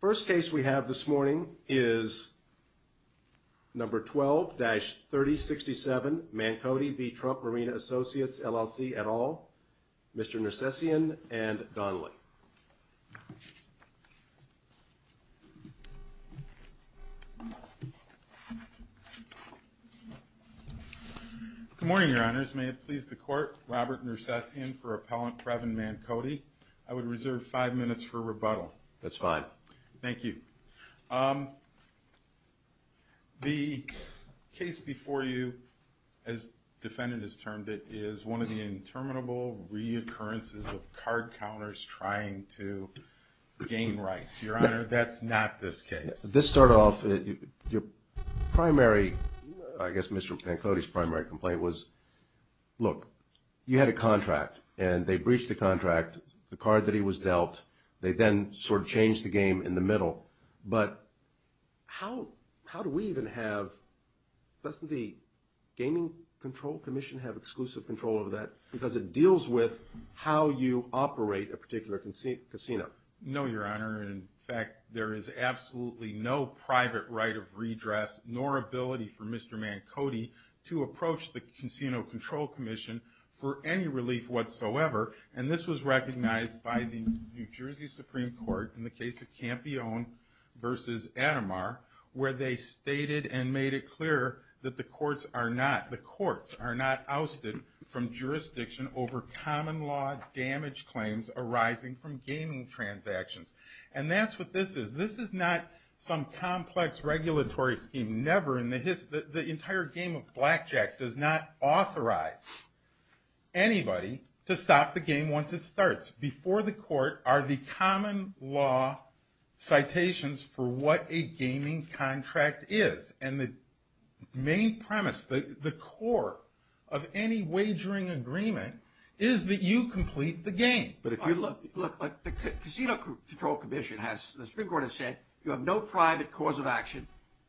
First case we have this morning is number 12-3067, Mankodi v. Trump Marina Associates LLC et al., Mr. Nersessian and Donnelly. Good morning, Your Honors. May it please the Court, Robert Nersessian for Appellant Previn Mankodi. I would reserve five minutes for rebuttal. Thank you. The case before you, as defendant has termed it, is one of the interminable reoccurrences of card counters trying to gain rights. Your Honor, that's not this case. As this started off, your primary – I guess Mr. Mankodi's primary complaint was, look, you had a contract, and they breached the contract, the card that he was dealt. They then sort of changed the game in the middle. But how do we even have – doesn't the Gaming Control Commission have exclusive control over that because it deals with how you operate a particular casino? No, Your Honor. In fact, there is absolutely no private right of redress nor ability for Mr. Mankodi to approach the Casino Control Commission for any relief whatsoever. And this was recognized by the New Jersey Supreme Court in the case of Campione v. Atomar, where they stated and made it clear that the courts are not – the courts are not ousted from jurisdiction over common law damage claims arising from gaming transactions. And that's what this is. This is not some complex regulatory scheme. Never in the history – the entire game of blackjack does not authorize anybody to stop the game once it starts. Before the court are the common law citations for what a gaming contract is. And the main premise, the core of any wagering agreement is that you complete the game. But if you look – look, the Casino Control Commission has – the Supreme Court has said you have no private cause of action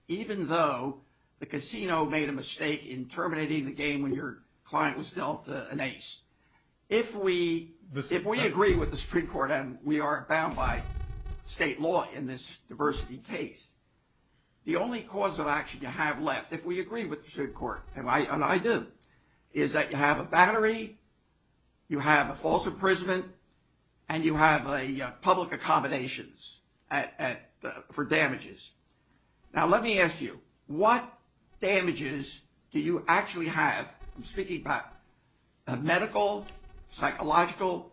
even though the casino made a mistake in terminating the game when your client was dealt an ace. If we – if we agree with the Supreme Court and we are bound by state law in this diversity case, the only cause of action you have left, if we agree with the Supreme Court, and I do, is that you have a battery, you have a false imprisonment, and you have a public accommodations for damages. Now let me ask you, what damages do you actually have – I'm speaking about medical, psychological,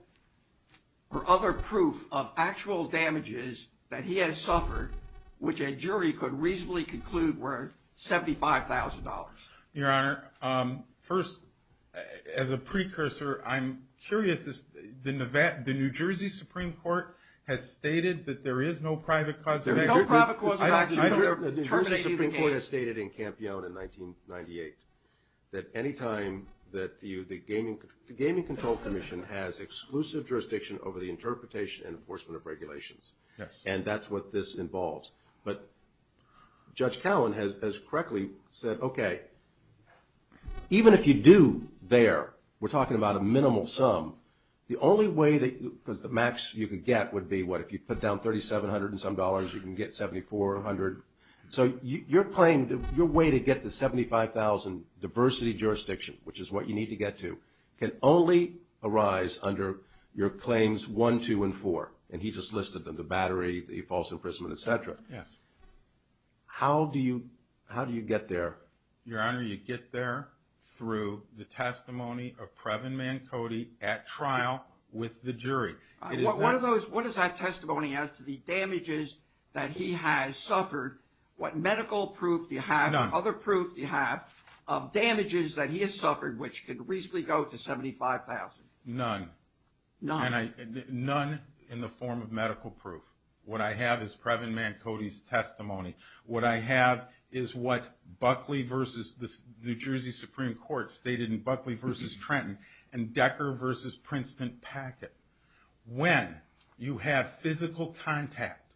or other proof of actual damages that he has suffered which a jury could reasonably conclude were $75,000? Your Honor, first, as a precursor, I'm curious, the New Jersey Supreme Court has stated that there is no private cause of action. There's no private cause of action. Terminating the game. The New Jersey Supreme Court has stated in Camp Young in 1998 that any time that you – the Gaming Control Commission has exclusive jurisdiction over the interpretation and enforcement of regulations. Yes. And that's what this involves. But Judge Cowen has correctly said, okay, even if you do there, we're talking about a minimal sum, the only way that – because the max you could get would be, what, if you put down $3,700 and some dollars, you can get $7,400. So your claim, your way to get to $75,000 diversity jurisdiction, which is what you need to get to, can only arise under your claims one, two, and four. And he just listed them, the battery, the false imprisonment, et cetera. Yes. How do you get there? Your Honor, you get there through the testimony of Previn Mancotti at trial with the jury. What does that testimony add to the damages that he has suffered? What medical proof do you have? None. What other proof do you have of damages that he has suffered which could reasonably go to $75,000? None. None. None in the form of medical proof. What I have is Previn Mancotti's testimony. What I have is what Buckley versus – the New Jersey Supreme Court stated in Buckley versus Trenton and Decker versus Princeton packet. When you have physical contact,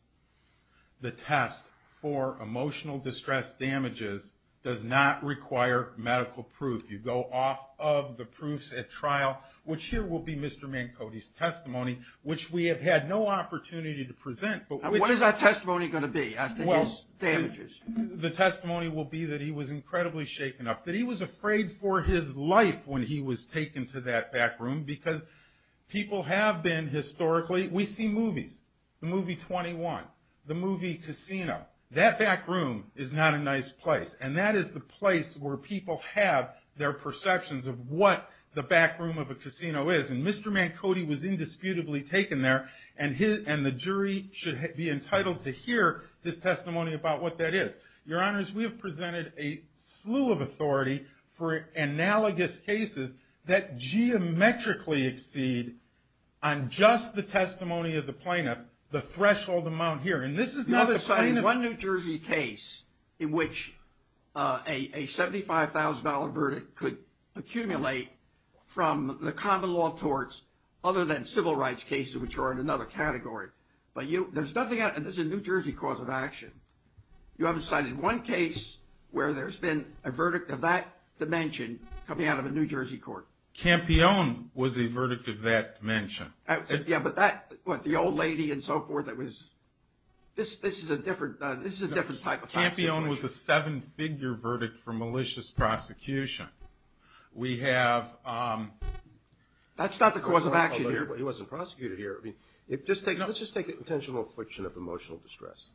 the test for emotional distress damages does not require medical proof. You go off of the proofs at trial, which here will be Mr. Mancotti's testimony, which we have had no opportunity to present. What is that testimony going to be? The testimony will be that he was incredibly shaken up, that he was afraid for his life when he was taken to that back room because people have been historically – we see movies, the movie 21, the movie Casino. That back room is not a nice place, and that is the place where people have their perceptions of what the back room of a casino is. And Mr. Mancotti was indisputably taken there, and the jury should be entitled to hear this testimony about what that is. Your Honors, we have presented a slew of authority for analogous cases that geometrically exceed, on just the testimony of the plaintiff, the threshold amount here. You haven't cited one New Jersey case in which a $75,000 verdict could accumulate from the common law torts other than civil rights cases, which are in another category. But there's nothing – and this is a New Jersey cause of action. You haven't cited one case where there's been a verdict of that dimension coming out of a New Jersey court. Campione was a verdict of that dimension. Yeah, but that – what, the old lady and so forth, that was – this is a different type of situation. No, Campione was a seven-figure verdict for malicious prosecution. We have – That's not the cause of action here. He wasn't prosecuted here. I mean, let's just take an intentional affliction of emotional distress.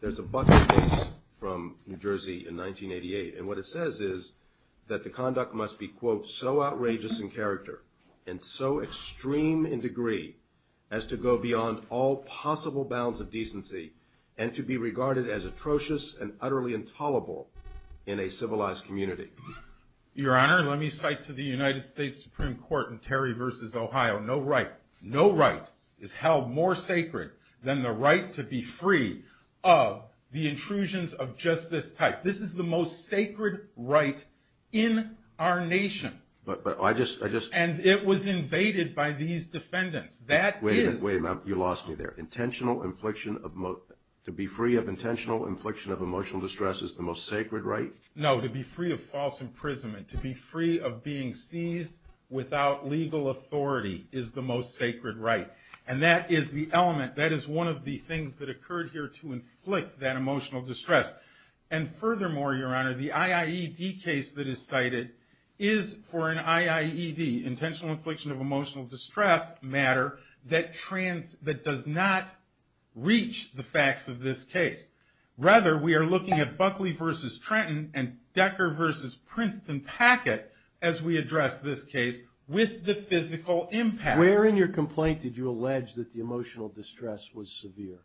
There's a bucket case from New Jersey in 1988, and what it says is that the conduct must be, quote, so outrageous in character and so extreme in degree as to go beyond all possible bounds of decency and to be regarded as atrocious and utterly intolerable in a civilized community. Your Honor, let me cite to the United States Supreme Court in Terry v. Ohio, no right – no right is held more sacred than the right to be free of the intrusions of just this type. This is the most sacred right in our nation. But I just – And it was invaded by these defendants. That is – Wait a minute. You lost me there. Intentional infliction of – to be free of intentional infliction of emotional distress is the most sacred right? No, to be free of false imprisonment, to be free of being seized without legal authority is the most sacred right. And that is the element – that is one of the things that occurred here to inflict that emotional distress. And furthermore, Your Honor, the IAED case that is cited is for an IAED, intentional infliction of emotional distress matter, that does not reach the facts of this case. Rather, we are looking at Buckley v. Trenton and Decker v. Princeton-Packett as we address this case with the physical impact. Where in your complaint did you allege that the emotional distress was severe?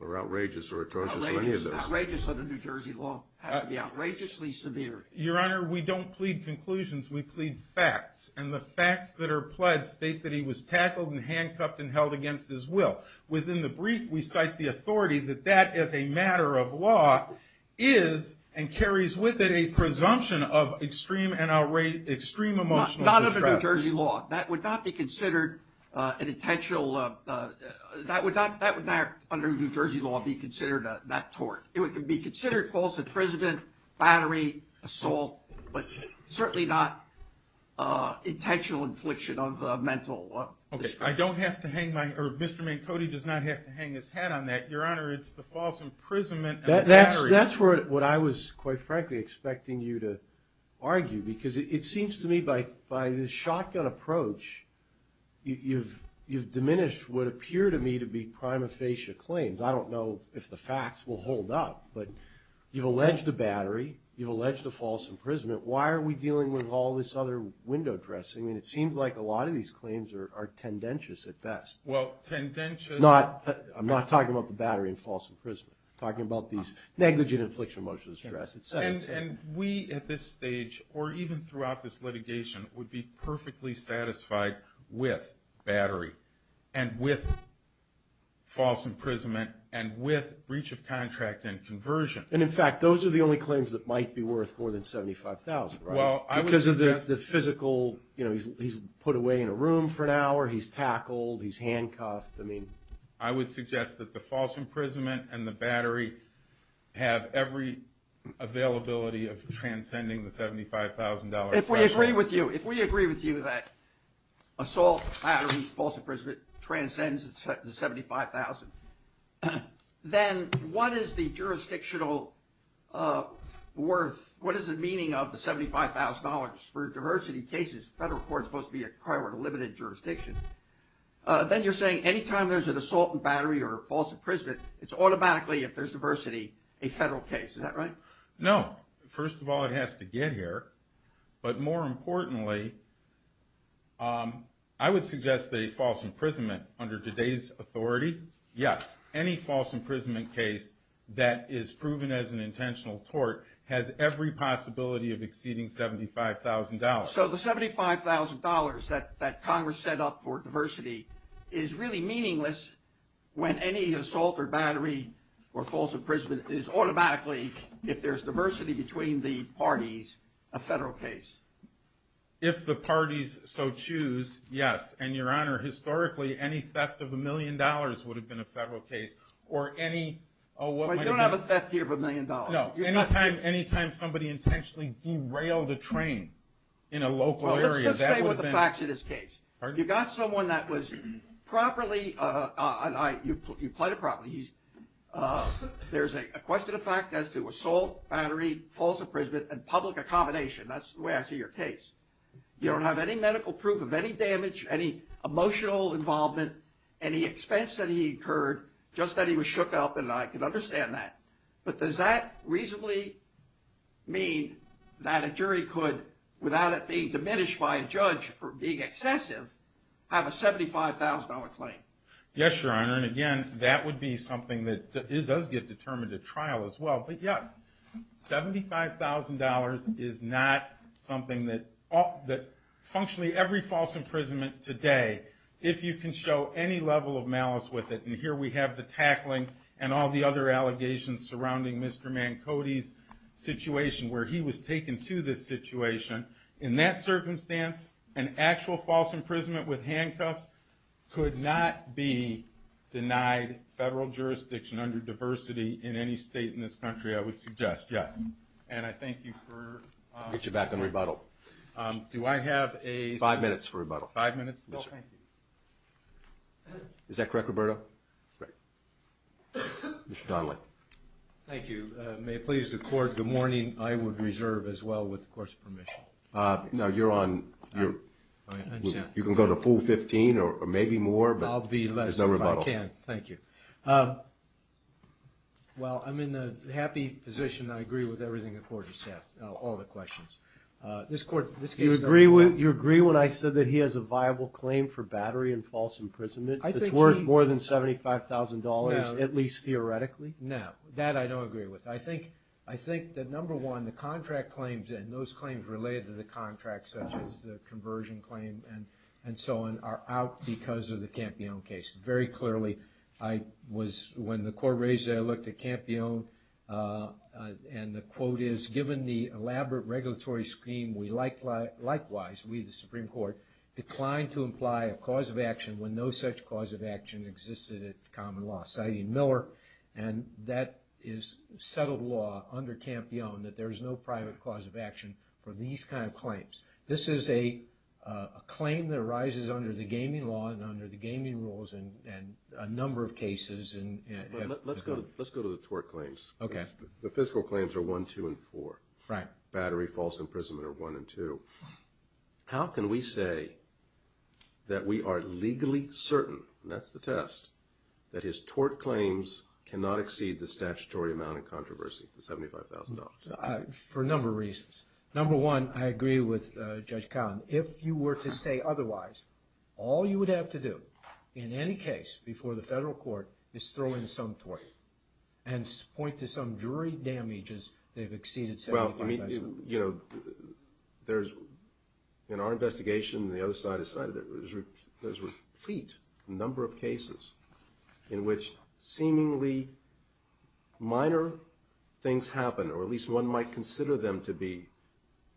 Or outrageous or atrocious or any of those? Outrageous. Outrageous under New Jersey law has to be outrageously severe. Your Honor, we don't plead conclusions. We plead facts. And the facts that are pledged state that he was tackled and handcuffed and held against his will. Within the brief, we cite the authority that that as a matter of law is and carries with it a presumption of extreme and outrageous – extreme emotional distress. Not under New Jersey law. That would not be considered an intentional – that would not – that would not under New Jersey law be considered that tort. It would be considered false imprisonment, battery, assault, but certainly not intentional infliction of mental distress. Okay. I don't have to hang my – or Mr. Mancotti does not have to hang his hat on that. Your Honor, it's the false imprisonment of battery. That's what I was, quite frankly, expecting you to argue. Because it seems to me by the shotgun approach, you've diminished what appear to me to be prima facie claims. I don't know if the facts will hold up. But you've alleged a battery. You've alleged a false imprisonment. Why are we dealing with all this other window dressing? I mean, it seems like a lot of these claims are tendentious at best. Well, tendentious – I'm not talking about the battery and false imprisonment. I'm talking about these negligent infliction of emotional distress itself. And we, at this stage, or even throughout this litigation, would be perfectly satisfied with battery and with false imprisonment and with breach of contract and conversion. And, in fact, those are the only claims that might be worth more than $75,000, right? Well, I would suggest – Because of the physical – you know, he's put away in a room for an hour. He's tackled. He's handcuffed. I would suggest that the false imprisonment and the battery have every availability of transcending the $75,000 threshold. If we agree with you, if we agree with you that assault, battery, false imprisonment transcends the $75,000, then what is the jurisdictional worth – what is the meaning of the $75,000 for diversity cases? The federal court is supposed to be a prior to limited jurisdiction. Then you're saying any time there's an assault and battery or false imprisonment, it's automatically, if there's diversity, a federal case. Is that right? No. First of all, it has to get here. But more importantly, I would suggest that a false imprisonment under today's authority – yes, any false imprisonment case that is proven as an intentional tort has every possibility of exceeding $75,000. So the $75,000 that Congress set up for diversity is really meaningless when any assault or battery or false imprisonment is automatically, if there's diversity between the parties, a federal case. If the parties so choose, yes. And, Your Honor, historically, any theft of a million dollars would have been a federal case. Or any – You don't have a theft here of a million dollars. No. Any time somebody intentionally derailed a train in a local area, that would have been – Let's stay with the facts of this case. You got someone that was properly – you played it properly. There's a question of fact as to assault, battery, false imprisonment, and public accommodation. That's the way I see your case. You don't have any medical proof of any damage, any emotional involvement, any expense that he incurred, just that he was shook up, and I can understand that. But does that reasonably mean that a jury could, without it being diminished by a judge for being excessive, have a $75,000 claim? Yes, Your Honor. And, again, that would be something that – it does get determined at trial as well. But, yes, $75,000 is not something that – Functionally, every false imprisonment today, if you can show any level of malice with it – surrounding Mr. Mancotti's situation, where he was taken to this situation – in that circumstance, an actual false imprisonment with handcuffs could not be denied federal jurisdiction under diversity in any state in this country, I would suggest. Yes. And I thank you for – I'll get you back on rebuttal. Do I have a – Five minutes for rebuttal. Five minutes? No, thank you. Is that correct, Roberto? Right. Mr. Donnelly. Thank you. May it please the Court, good morning. I would reserve, as well, with the Court's permission. No, you're on – I understand. You can go to full 15 or maybe more, but there's no rebuttal. I'll be less if I can. Thank you. Well, I'm in a happy position. I agree with everything the Court has said, all the questions. This Court – You agree when I said that he has a viable claim for battery and false imprisonment? I think he – It's worth more than $75,000, at least theoretically? No, that I don't agree with. I think that, number one, the contract claims and those claims related to the contract, such as the conversion claim and so on, are out because of the Campione case. Very clearly, I was – when the Court raised it, I looked at Campione, and the quote is, given the elaborate regulatory scheme, we likewise, we, the Supreme Court, declined to imply a cause of action when no such cause of action existed at common law, citing Miller, and that is settled law under Campione that there is no private cause of action for these kind of claims. This is a claim that arises under the gaming law and under the gaming rules in a number of cases. Let's go to the tort claims. Okay. The fiscal claims are 1, 2, and 4. Right. Battery, false imprisonment are 1 and 2. How can we say that we are legally certain, and that's the test, that his tort claims cannot exceed the statutory amount in controversy, the $75,000? For a number of reasons. Number one, I agree with Judge Cowen. If you were to say otherwise, all you would have to do in any case before the federal court is throw in some tort and point to some jury damages that have exceeded 75%. Well, you know, there's, in our investigation, and the other side has cited it, there's a complete number of cases in which seemingly minor things happen, or at least one might consider them to be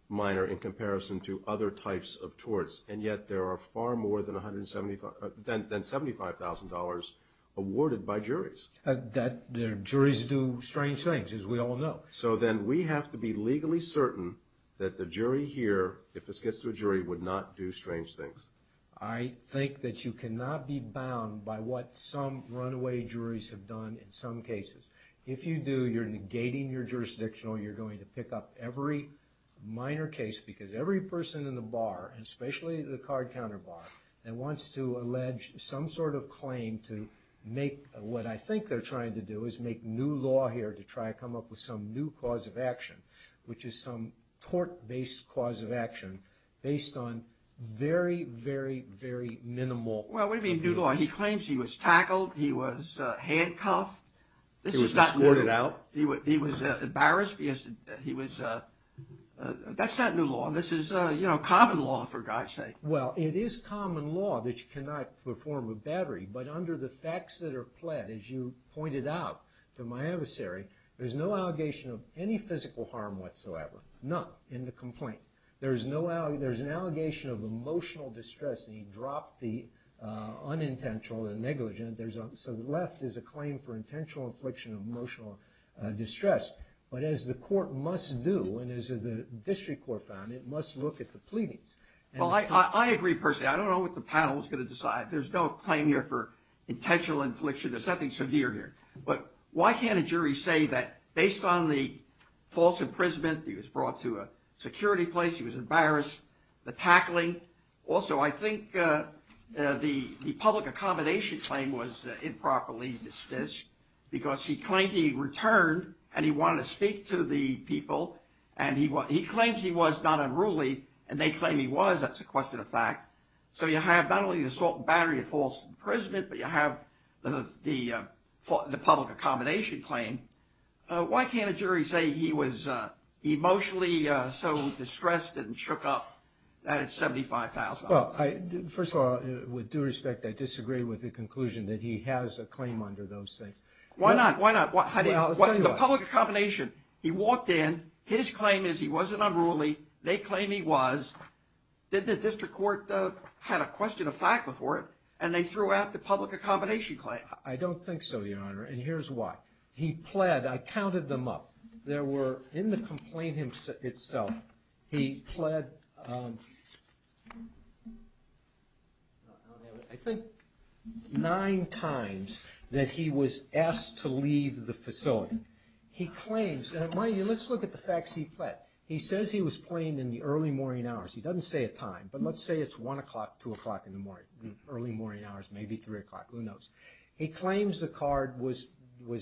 minor in comparison to other types of torts, and yet there are far more than $75,000 awarded by juries. That, the juries do strange things, as we all know. So then we have to be legally certain that the jury here, if this gets to a jury, would not do strange things. I think that you cannot be bound by what some runaway juries have done in some cases. If you do, you're negating your jurisdiction, or you're going to pick up every minor case, because every person in the bar, and especially the card counter bar, that wants to allege some sort of claim to make what I think they're trying to do is make new law here to try to come up with some new cause of action, which is some tort-based cause of action based on very, very, very minimal. Well, what do you mean new law? He claims he was tackled, he was handcuffed. He was escorted out. He was embarrassed. That's not new law. This is common law, for God's sake. Well, it is common law that you cannot perform a battery, but under the facts that are pled, as you pointed out to my adversary, there's no allegation of any physical harm whatsoever, none, in the complaint. There's an allegation of emotional distress, and he dropped the unintentional and negligent. So the left is a claim for intentional infliction of emotional distress. But as the court must do, and as the district court found, it must look at the pleadings. Well, I agree personally. I don't know what the panel is going to decide. There's no claim here for intentional infliction. There's nothing severe here. But why can't a jury say that based on the false imprisonment, he was brought to a security place, he was embarrassed, the tackling. Also, I think the public accommodation claim was improperly dismissed because he claimed he returned and he wanted to speak to the people, and he claims he was not unruly, and they claim he was. That's a question of fact. So you have not only the assault and battery of false imprisonment, but you have the public accommodation claim. Why can't a jury say he was emotionally so distressed and shook up that it's $75,000? Well, first of all, with due respect, I disagree with the conclusion that he has a claim under those things. Why not? Why not? The public accommodation, he walked in. His claim is he wasn't unruly. They claim he was. Then the district court had a question of fact before it, and they threw out the public accommodation claim. I don't think so, Your Honor, and here's why. He pled. I counted them up. There were, in the complaint itself, he pled, I think, nine times that he was asked to leave the facility. He says he was plain in the early morning hours. He doesn't say a time, but let's say it's 1 o'clock, 2 o'clock in the morning, early morning hours, maybe 3 o'clock. Who knows? He claims the card was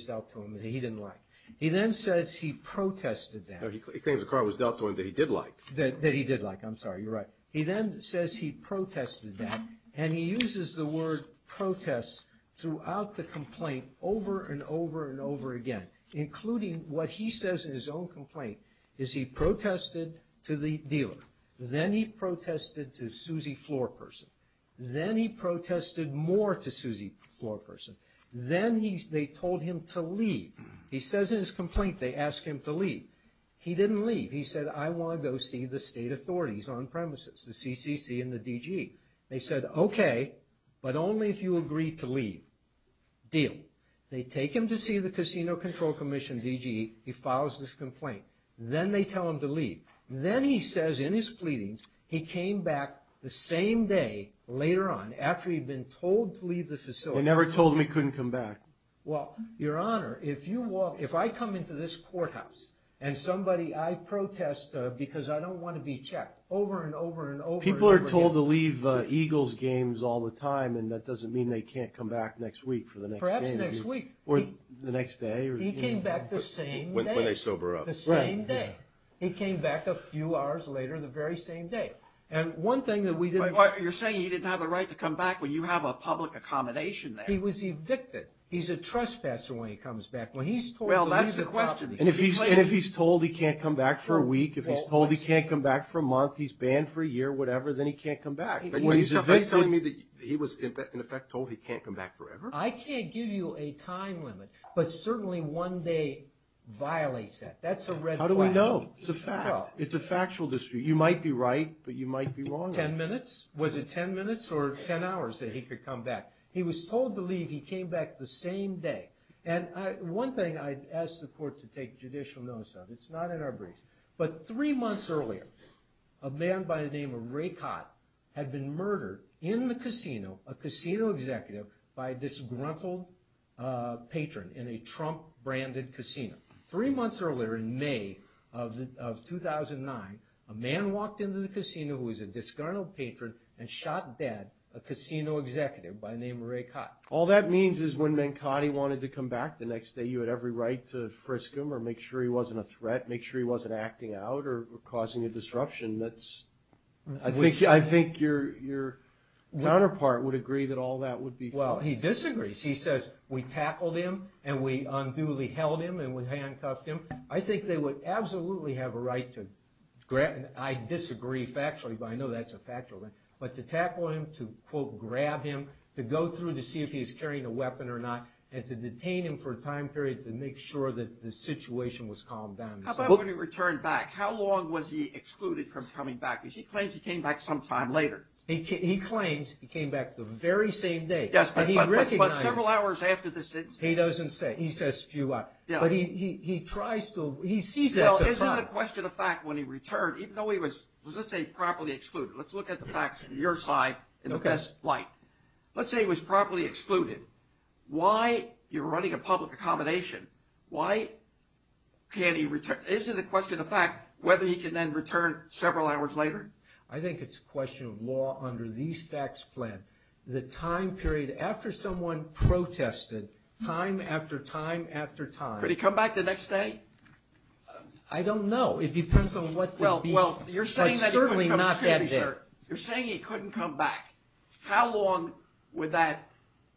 dealt to him that he didn't like. He then says he protested that. No, he claims the card was dealt to him that he did like. That he did like. I'm sorry. You're right. He then says he protested that, and he uses the word protest throughout the complaint over and over and over again, including what he says in his own complaint is he protested to the dealer. Then he protested to Susie Floorperson. Then he protested more to Susie Floorperson. Then they told him to leave. He says in his complaint they asked him to leave. He didn't leave. He said, I want to go see the state authorities on premises, the CCC and the DG. They said, okay, but only if you agree to leave. Deal. They take him to see the Casino Control Commission DG. He files this complaint. Then they tell him to leave. Then he says in his pleadings he came back the same day later on after he'd been told to leave the facility. He never told him he couldn't come back. Well, Your Honor, if I come into this courthouse and somebody I protest because I don't want to be checked over and over and over again. People are told to leave Eagles games all the time, and that doesn't mean they can't come back next week for the next game. Perhaps next week. Or the next day. He came back the same day. When they sober up. The same day. He came back a few hours later the very same day. And one thing that we didn't. You're saying he didn't have the right to come back when you have a public accommodation there. He was evicted. He's a trespasser when he comes back. Well, that's the question. And if he's told he can't come back for a week, if he's told he can't come back for a month, he's banned for a year, whatever, then he can't come back. Are you telling me that he was in effect told he can't come back forever? I can't give you a time limit, but certainly one day violates that. That's a red flag. How do we know? It's a fact. It's a factual dispute. You might be right, but you might be wrong. Ten minutes? Was it ten minutes or ten hours that he could come back? He was told to leave. He came back the same day. And one thing I'd ask the court to take judicial notice of. It's not in our briefs. But three months earlier, a man by the name of Ray Cott had been murdered in the casino, a casino executive, by a disgruntled patron in a Trump-branded casino. Three months earlier, in May of 2009, a man walked into the casino who was a disgruntled patron and shot dead a casino executive by the name of Ray Cott. All that means is when man Cottie wanted to come back the next day, you had every right to frisk him or make sure he wasn't a threat, make sure he wasn't acting out or causing a disruption. I think your counterpart would agree that all that would be true. Well, he disagrees. He says we tackled him and we unduly held him and we handcuffed him. I think they would absolutely have a right to grab him. I disagree factually, but I know that's a factual thing. But to tackle him, to, quote, grab him, to go through to see if he was carrying a weapon or not, and to detain him for a time period to make sure that the situation was calmed down. How about when he returned back? How long was he excluded from coming back? Because he claims he came back sometime later. He claims he came back the very same day. Yes, but several hours after this incident. He doesn't say. He says a few hours. But he tries to – he sees it as a fact. Isn't it a question of fact when he returned, even though he was, let's say, properly excluded? Let's look at the facts on your side in the best light. Let's say he was properly excluded. Why? You're running a public accommodation. Why can't he return? Isn't it a question of fact whether he can then return several hours later? I think it's a question of law under these facts plan. The time period after someone protested, time after time after time. Could he come back the next day? I don't know. It depends on what the – but certainly not that day. Well, you're saying that he couldn't come – excuse me, sir. You're saying he couldn't come back. How long would that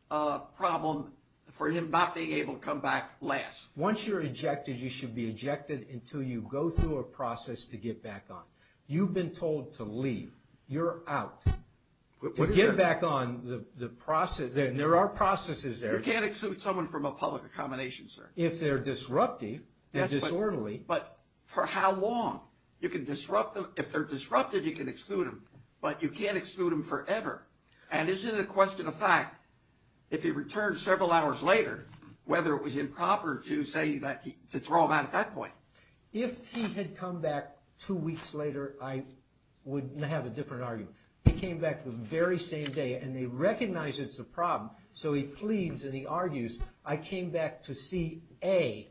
problem for him not being able to come back last? Once you're ejected, you should be ejected until you go through a process to get back on. You've been told to leave. You're out. To get back on, the process – there are processes there. You can't exclude someone from a public accommodation, sir. If they're disruptive, they're disorderly. But for how long? You can disrupt them. If they're disruptive, you can exclude them. But you can't exclude them forever. And isn't it a question of fact, if he returns several hours later, whether it was improper to say that – to throw him out at that point? If he had come back two weeks later, I would have a different argument. He came back the very same day, and they recognize it's a problem, so he pleads and he argues, I came back to see a casino manager.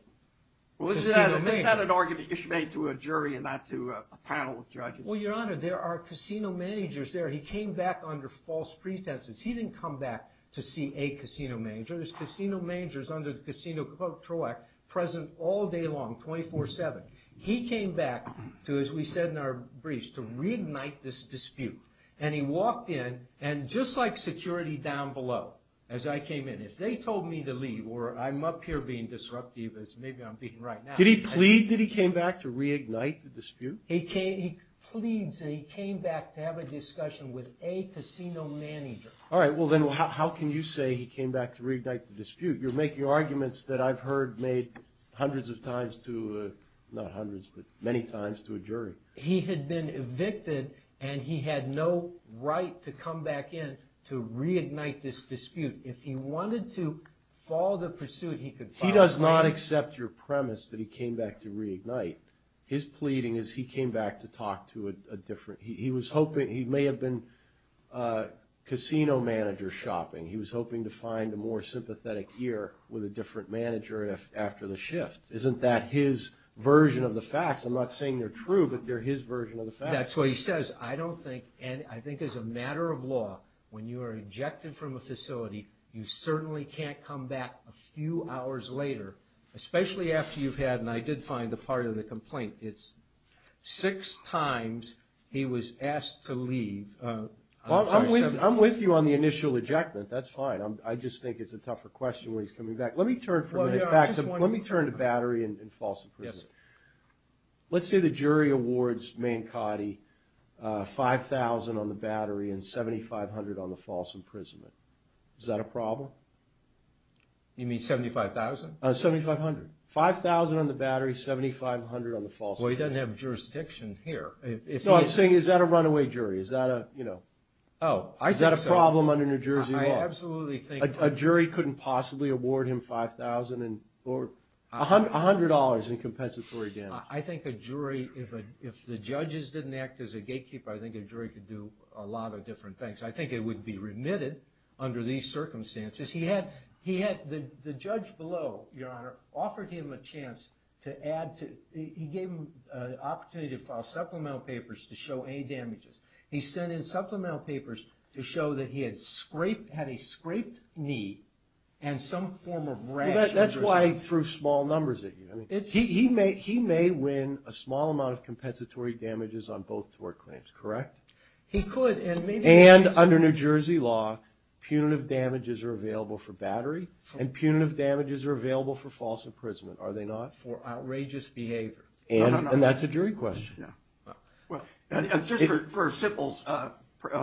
Well, isn't that an argument you should make to a jury and not to a panel of judges? Well, Your Honor, there are casino managers there. He came back under false pretenses. He didn't come back to see a casino manager. There's casino managers under the Casino Control Act present all day long, 24-7. He came back to, as we said in our briefs, to reignite this dispute. And he walked in, and just like security down below, as I came in, if they told me to leave or I'm up here being disruptive as maybe I'm being right now. Did he plead? Did he came back to reignite the dispute? He pleads, and he came back to have a discussion with a casino manager. All right. Well, then how can you say he came back to reignite the dispute? You're making arguments that I've heard made hundreds of times to – not hundreds, but many times to a jury. He had been evicted, and he had no right to come back in to reignite this dispute. If he wanted to follow the pursuit, he could follow the pursuit. He does not accept your premise that he came back to reignite. His pleading is he came back to talk to a different – he was hoping – he may have been casino manager shopping. He was hoping to find a more sympathetic ear with a different manager after the shift. Isn't that his version of the facts? I'm not saying they're true, but they're his version of the facts. That's what he says. I don't think – and I think as a matter of law, when you are ejected from a facility, you certainly can't come back a few hours later, especially after you've had – and I did find the part of the complaint. It's six times he was asked to leave. I'm with you on the initial ejectment. That's fine. I just think it's a tougher question when he's coming back. Let me turn for a minute back to – let me turn to Battery and false imprisonment. Let's say the jury awards Mankati $5,000 on the Battery and $7,500 on the false imprisonment. Is that a problem? You mean $75,000? $7,500. $5,000 on the Battery, $7,500 on the false imprisonment. Well, he doesn't have jurisdiction here. No, I'm saying is that a runaway jury? Is that a – you know. Is that a problem under New Jersey law? I absolutely think – A jury couldn't possibly award him $5,000 or $100 in compensatory damage. I think a jury – if the judges didn't act as a gatekeeper, I think a jury could do a lot of different things. I think it would be remitted under these circumstances. He had – the judge below, Your Honor, offered him a chance to add to – he gave him an opportunity to file supplemental papers to show any damages. He sent in supplemental papers to show that he had scraped – had a scraped knee and some form of rash. Well, that's why he threw small numbers at you. I mean, he may win a small amount of compensatory damages on both tort claims, correct? He could and maybe – And under New Jersey law, punitive damages are available for Battery and punitive damages are available for false imprisonment, are they not? For outrageous behavior. And that's a jury question. Yeah. Well, just for a simple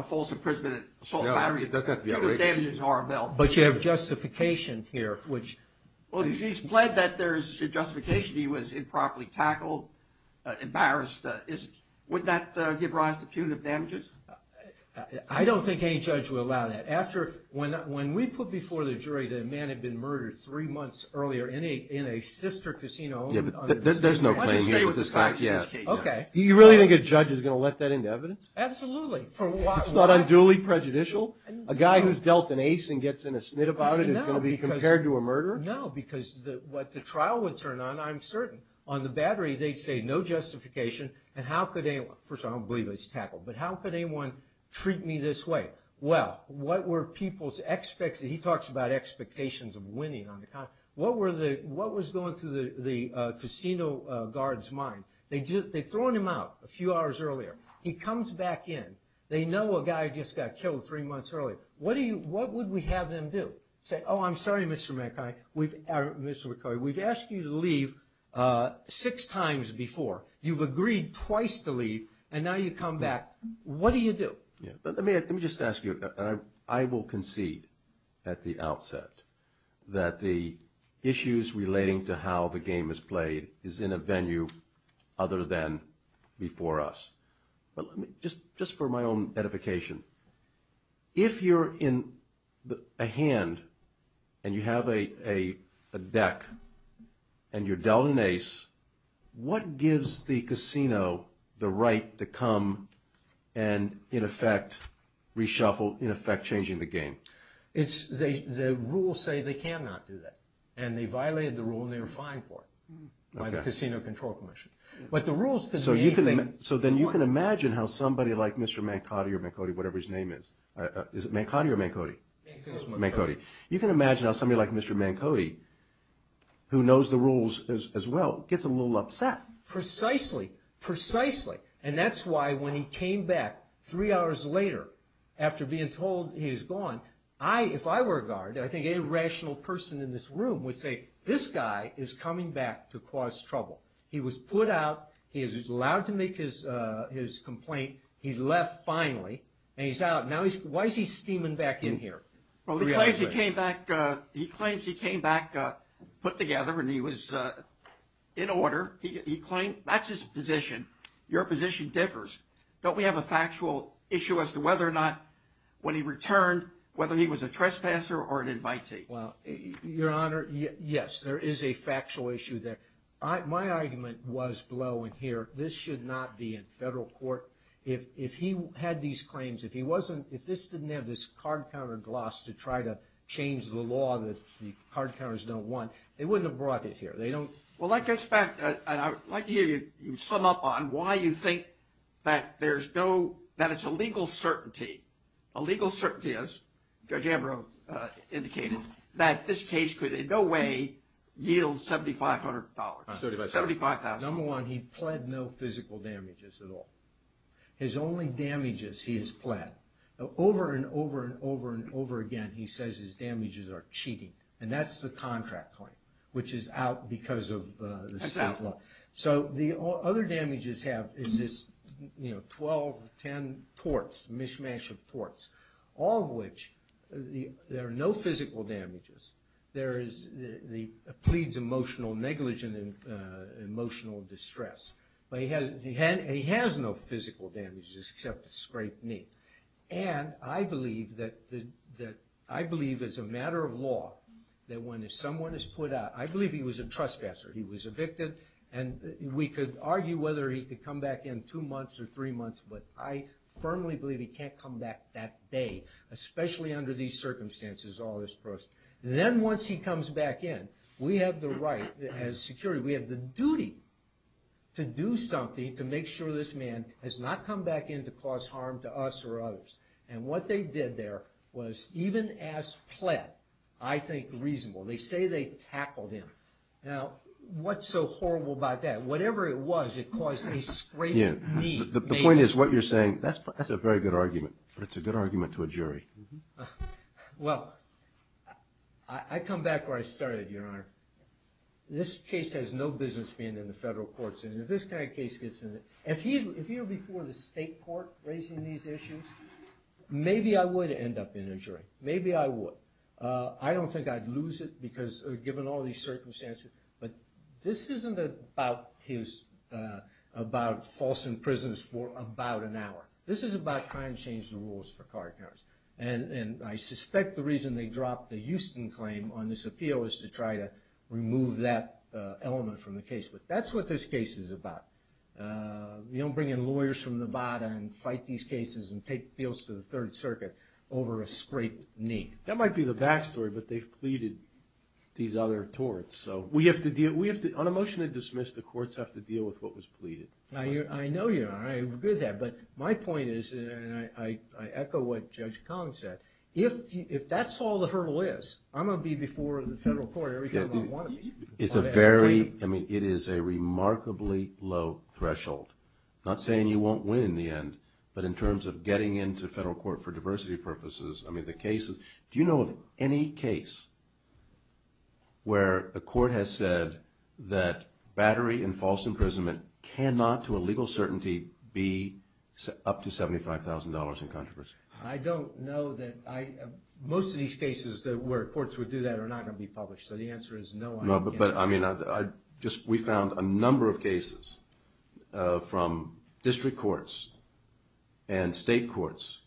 false imprisonment and assault of Battery, it doesn't have to be outrageous. Punitive damages are available. But you have justification here, which – Well, he's pled that there's justification. He was improperly tackled, embarrassed. Would that give rise to punitive damages? I don't think any judge would allow that. After – when we put before the jury that a man had been murdered three months earlier in a sister casino – Yeah, but there's no claim here to this fact yet. Okay. Do you really think a judge is going to let that into evidence? Absolutely. It's not unduly prejudicial? A guy who's dealt an ace and gets in a snit about it is going to be compared to a murderer? No, because what the trial would turn on, I'm certain, on the Battery, they'd say no justification and how could anyone – first of all, I don't believe he was tackled. But how could anyone treat me this way? Well, what were people's – he talks about expectations of winning on the – what was going through the casino guard's mind? They'd thrown him out a few hours earlier. He comes back in. They know a guy just got killed three months earlier. What would we have them do? Say, oh, I'm sorry, Mr. McCoy, we've asked you to leave six times before. You've agreed twice to leave, and now you come back. What do you do? Let me just ask you, and I will concede at the outset, that the issues relating to how the game is played is in a venue other than before us. But let me – just for my own edification, if you're in a hand and you have a deck and you're dealt an ace, what gives the casino the right to come and, in effect, reshuffle, in effect changing the game? It's – the rules say they cannot do that, and they violated the rule and they were fined for it by the Casino Control Commission. But the rules – So you can – so then you can imagine how somebody like Mr. Mancotti or Mancotti, whatever his name is – is it Mancotti or Mancotti? Mancotti. Mancotti. You can imagine how somebody like Mr. Mancotti, who knows the rules as well, gets a little upset. Precisely. Precisely. And that's why when he came back three hours later after being told he was gone, I – if I were a guard, I think any rational person in this room would say, this guy is coming back to cause trouble. He was put out. He is allowed to make his complaint. He left finally, and he's out. Now he's – why is he steaming back in here? Well, he claims he came back – he claims he came back put together and he was in order. He claimed – that's his position. Your position differs. Don't we have a factual issue as to whether or not when he returned, whether he was a trespasser or an invitee? Well, Your Honor, yes, there is a factual issue there. My argument was below in here, this should not be in federal court. If he had these claims, if he wasn't – if this didn't have this card counter gloss to try to change the law that the card counters don't want, they wouldn't have brought it here. They don't – Well, I'd like to hear you sum up on why you think that there's no – that it's a legal certainty. A legal certainty is, Judge Ambrose indicated, that this case could in no way yield $7,500. $75,000. Number one, he pled no physical damages at all. His only damages he has pled. Over and over and over and over again, he says his damages are cheating, and that's the contract claim, which is out because of the state law. So the other damages have is this, you know, 12, 10 torts, a mishmash of torts, all of which there are no physical damages. There is the pleads emotional negligence and emotional distress. But he has no physical damages except a scraped knee. And I believe that – I believe as a matter of law that when someone is put out – I believe he was a trespasser. He was evicted, and we could argue whether he could come back in two months or three months, but I firmly believe he can't come back that day, especially under these circumstances, all this process. Then once he comes back in, we have the right as security, we have the duty to do something to make sure this man has not come back in to cause harm to us or others. And what they did there was, even as pled, I think reasonable. They say they tackled him. Now, what's so horrible about that? Whatever it was, it caused a scraped knee. The point is what you're saying, that's a very good argument, but it's a good argument to a jury. Well, I come back where I started, Your Honor. This case has no business being in the federal courts. If this kind of case gets in – if he were before the state court raising these issues, maybe I would end up in a jury. Maybe I would. I don't think I'd lose it because – given all these circumstances. But this isn't about his – about false imprisons for about an hour. This is about trying to change the rules for card counters. And I suspect the reason they dropped the Houston claim on this appeal is to try to remove that element from the case. But that's what this case is about. You don't bring in lawyers from Nevada and fight these cases and take appeals to the Third Circuit over a scraped knee. That might be the backstory, but they've pleaded these other torts. So we have to – on a motion to dismiss, the courts have to deal with what was pleaded. I know, Your Honor. I agree with that. But my point is, and I echo what Judge Collins said, if that's all the hurdle is, I'm going to be before the federal court every time I want to be. It's a very – I mean, it is a remarkably low threshold. I'm not saying you won't win in the end, but in terms of getting into federal court for diversity purposes, I mean, the cases – do you know of any case where a court has said that battery and false imprisonment cannot to a legal certainty be up to $75,000 in controversy? I don't know that I – most of these cases where courts would do that are not going to be published. So the answer is no. No, but I mean, I just – we found a number of cases from district courts and state courts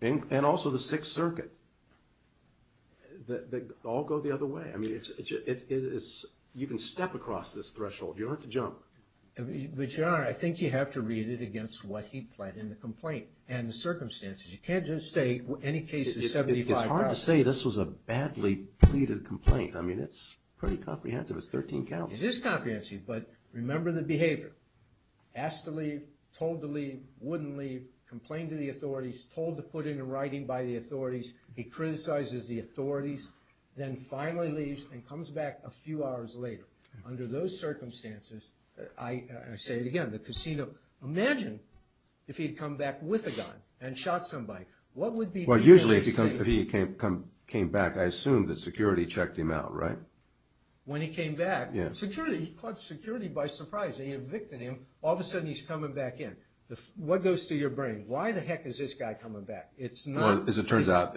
and also the Sixth Circuit that all go the other way. I mean, it's – you can step across this threshold. You don't have to jump. But, Your Honor, I think you have to read it against what he pled in the complaint and the circumstances. You can't just say any case is $75,000. I have to say this was a badly pleaded complaint. I mean, it's pretty comprehensive. It's 13 counts. It is comprehensive, but remember the behavior. Asked to leave, told to leave, wouldn't leave, complained to the authorities, told to put in a writing by the authorities, he criticizes the authorities, then finally leaves and comes back a few hours later. Under those circumstances, I say it again, the casino – imagine if he had come back with a gun and shot somebody. Well, usually if he came back, I assume that security checked him out, right? When he came back, security – he caught security by surprise. They evicted him. All of a sudden, he's coming back in. What goes through your brain? Why the heck is this guy coming back? It's not – Well, as it turns out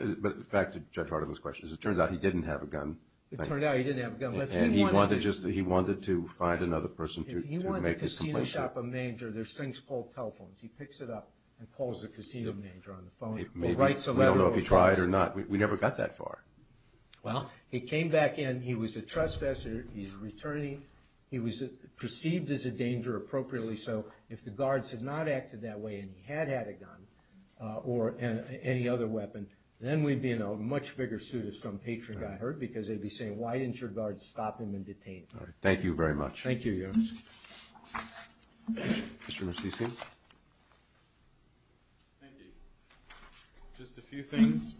– back to Judge Hardiman's question. As it turns out, he didn't have a gun. It turned out he didn't have a gun. And he wanted to just – he wanted to find another person to make his complaint. If he went to the casino shop, a manger, there's things called telephones. He picks it up and calls the casino manger on the phone or writes a letter. We don't know if he tried or not. We never got that far. Well, he came back in. He was a trespasser. He's returning. He was perceived as a danger, appropriately so. If the guards had not acted that way and he had had a gun or any other weapon, then we'd be in a much bigger suit if some patron got hurt because they'd be saying, why didn't your guards stop him and detain him? All right. Thank you very much. Thank you, Your Honor. Mr. Mercisi. Thank you. Just a few things.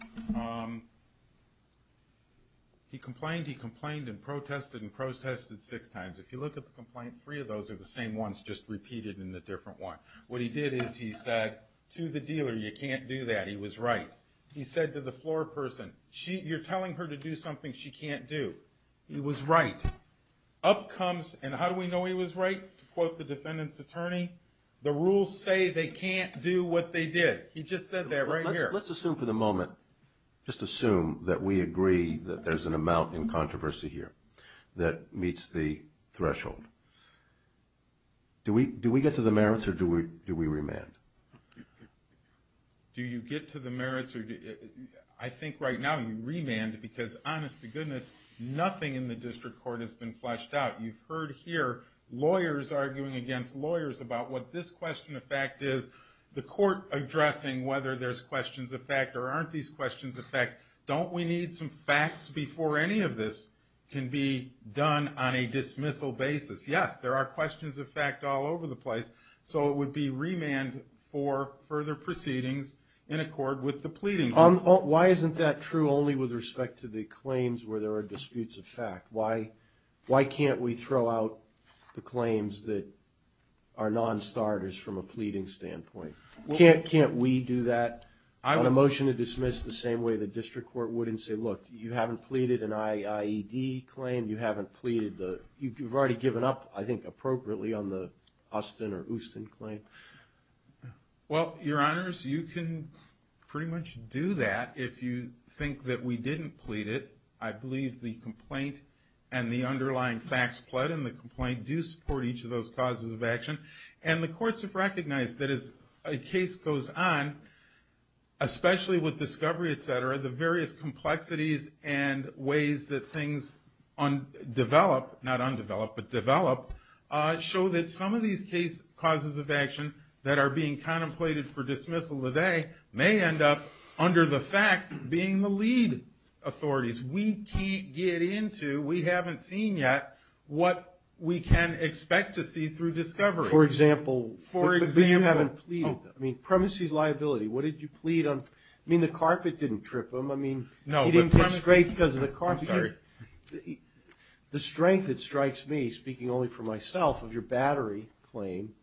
He complained. He complained and protested and protested six times. If you look at the complaint, three of those are the same ones just repeated in a different one. What he did is he said to the dealer, you can't do that. He was right. He said to the floor person, you're telling her to do something she can't do. He was right. Up comes, and how do we know he was right? To quote the defendant's attorney, the rules say they can't do what they did. He just said that right here. Let's assume for the moment, just assume that we agree that there's an amount in controversy here that meets the threshold. Do we get to the merits or do we remand? Do you get to the merits? I think right now you remand because, honest to goodness, nothing in the district court has been fleshed out. You've heard here lawyers arguing against lawyers about what this question of fact is, the court addressing whether there's questions of fact or aren't these questions of fact. Don't we need some facts before any of this can be done on a dismissal basis? Yes, there are questions of fact all over the place, so it would be remand for further proceedings in accord with the pleadings. Why isn't that true only with respect to the claims where there are disputes of fact? Why can't we throw out the claims that are non-starters from a pleading standpoint? Can't we do that on a motion to dismiss the same way the district court would and say, look, you haven't pleaded an IED claim. You've already given up, I think, appropriately on the Austin or Houston claim. Well, Your Honors, you can pretty much do that if you think that we didn't plead it. I believe the complaint and the underlying facts pled in the complaint do support each of those causes of action. And the courts have recognized that as a case goes on, especially with discovery, et cetera, the various complexities and ways that things develop, not undeveloped, but develop, show that some of these cases of action that are being contemplated for dismissal today may end up under the facts being the lead authorities. We can't get into, we haven't seen yet, what we can expect to see through discovery. For example, if you haven't pleaded, I mean, premises liability. What did you plead on? I mean, the carpet didn't trip him. I mean, he didn't get scraped because of the carpet. I'm sorry. The strength that strikes me, speaking only for myself, of your battery claim,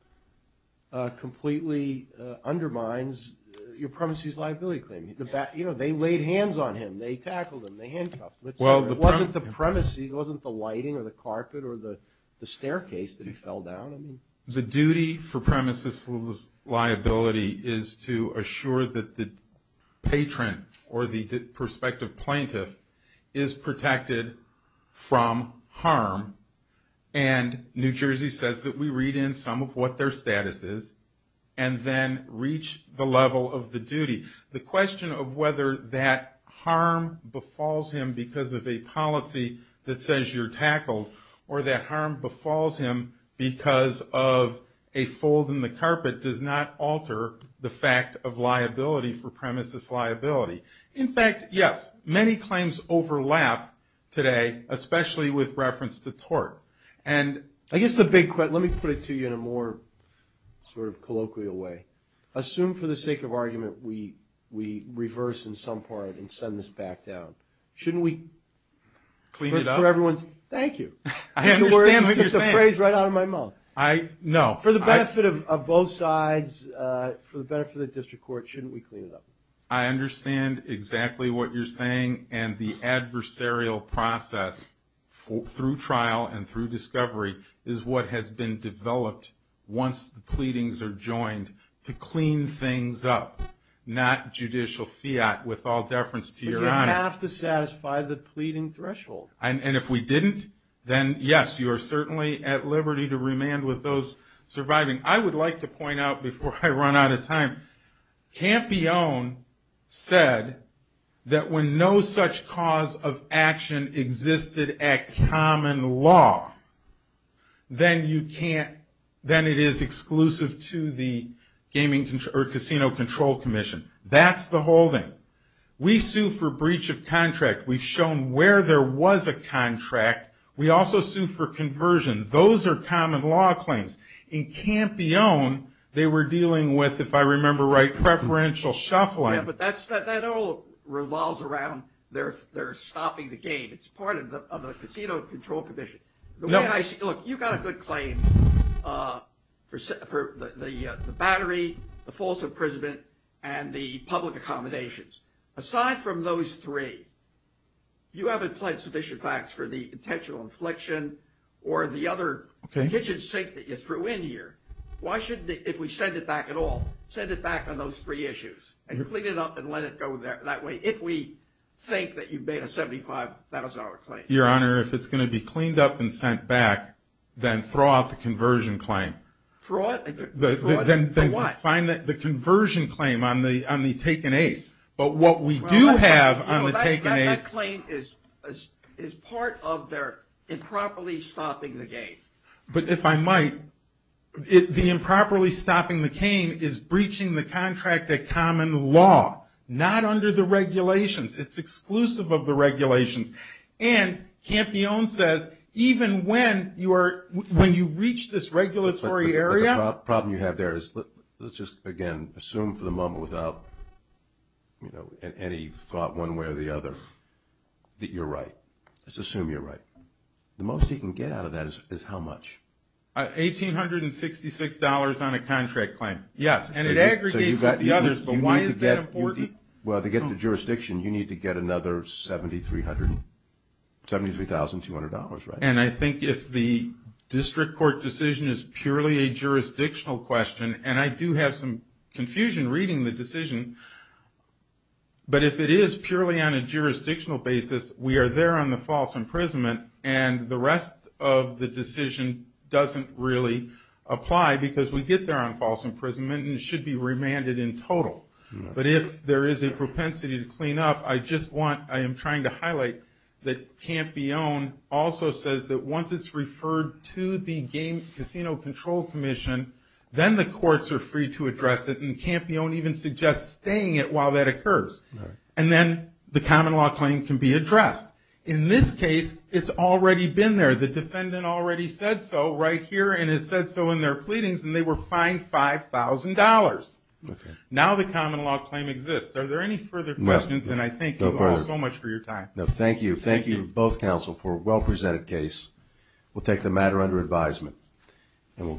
completely undermines your premises liability claim. You know, they laid hands on him. They tackled him. They handcuffed him, et cetera. It wasn't the premises. It wasn't the lighting or the carpet or the staircase that he fell down. The duty for premises liability is to assure that the patron or the prospective plaintiff is protected from harm, and New Jersey says that we read in some of what their status is and then reach the level of the duty. The question of whether that harm befalls him because of a policy that says you're tackled or that harm befalls him because of a fold in the carpet does not alter the fact of liability for premises liability. In fact, yes, many claims overlap today, especially with reference to tort. And I guess the big question, let me put it to you in a more sort of colloquial way. Assume for the sake of argument we reverse in some part and send this back down. Shouldn't we clean it up? So everyone's, thank you. I understand what you're saying. You took the phrase right out of my mouth. No. For the benefit of both sides, for the benefit of the district court, shouldn't we clean it up? I understand exactly what you're saying, and the adversarial process through trial and through discovery is what has been developed once the pleadings are joined to clean things up, not judicial fiat with all deference to your honor. We have to satisfy the pleading threshold. And if we didn't, then yes, you are certainly at liberty to remand with those surviving. I would like to point out before I run out of time, Campione said that when no such cause of action existed at common law, then it is exclusive to the casino control commission. That's the holding. We sue for breach of contract. We've shown where there was a contract. We also sue for conversion. Those are common law claims. In Campione, they were dealing with, if I remember right, preferential shuffling. Yeah, but that all revolves around they're stopping the game. It's part of the casino control commission. Look, you've got a good claim for the battery, the false imprisonment, and the public accommodations. Aside from those three, you haven't pledged sufficient facts for the intentional infliction or the other kitchen sink that you threw in here. Why shouldn't we, if we send it back at all, send it back on those three issues and clean it up and let it go that way if we think that you've made a $75 claim? Your Honor, if it's going to be cleaned up and sent back, then throw out the conversion claim. Throw it? For what? Then find the conversion claim on the take and ace. But what we do have on the take and ace... That claim is part of their improperly stopping the game. But if I might, the improperly stopping the game is breaching the contract at common law, not under the regulations. It's exclusive of the regulations. And Campione says even when you reach this regulatory area... But the problem you have there is, let's just, again, assume for the moment without any thought one way or the other that you're right. Let's assume you're right. The most he can get out of that is how much? $1,866 on a contract claim. Yes, and it aggregates with the others, but why is that important? Well, to get to jurisdiction, you need to get another $73,200, right? And I think if the district court decision is purely a jurisdictional question, and I do have some confusion reading the decision, but if it is purely on a jurisdictional basis, we are there on the false imprisonment, and the rest of the decision doesn't really apply because we get there on false imprisonment and should be remanded in total. But if there is a propensity to clean up, I just want... I am trying to highlight that Campione also says that once it's referred to the casino control commission, then the courts are free to address it, and Campione even suggests staying it while that occurs. And then the common law claim can be addressed. In this case, it's already been there. The defendant already said so right here and has said so in their pleadings, and they were fined $5,000. Now the common law claim exists. Are there any further questions? And I thank you all so much for your time. No, thank you. Thank you, both counsel, for a well-presented case. We'll take the matter under advisement.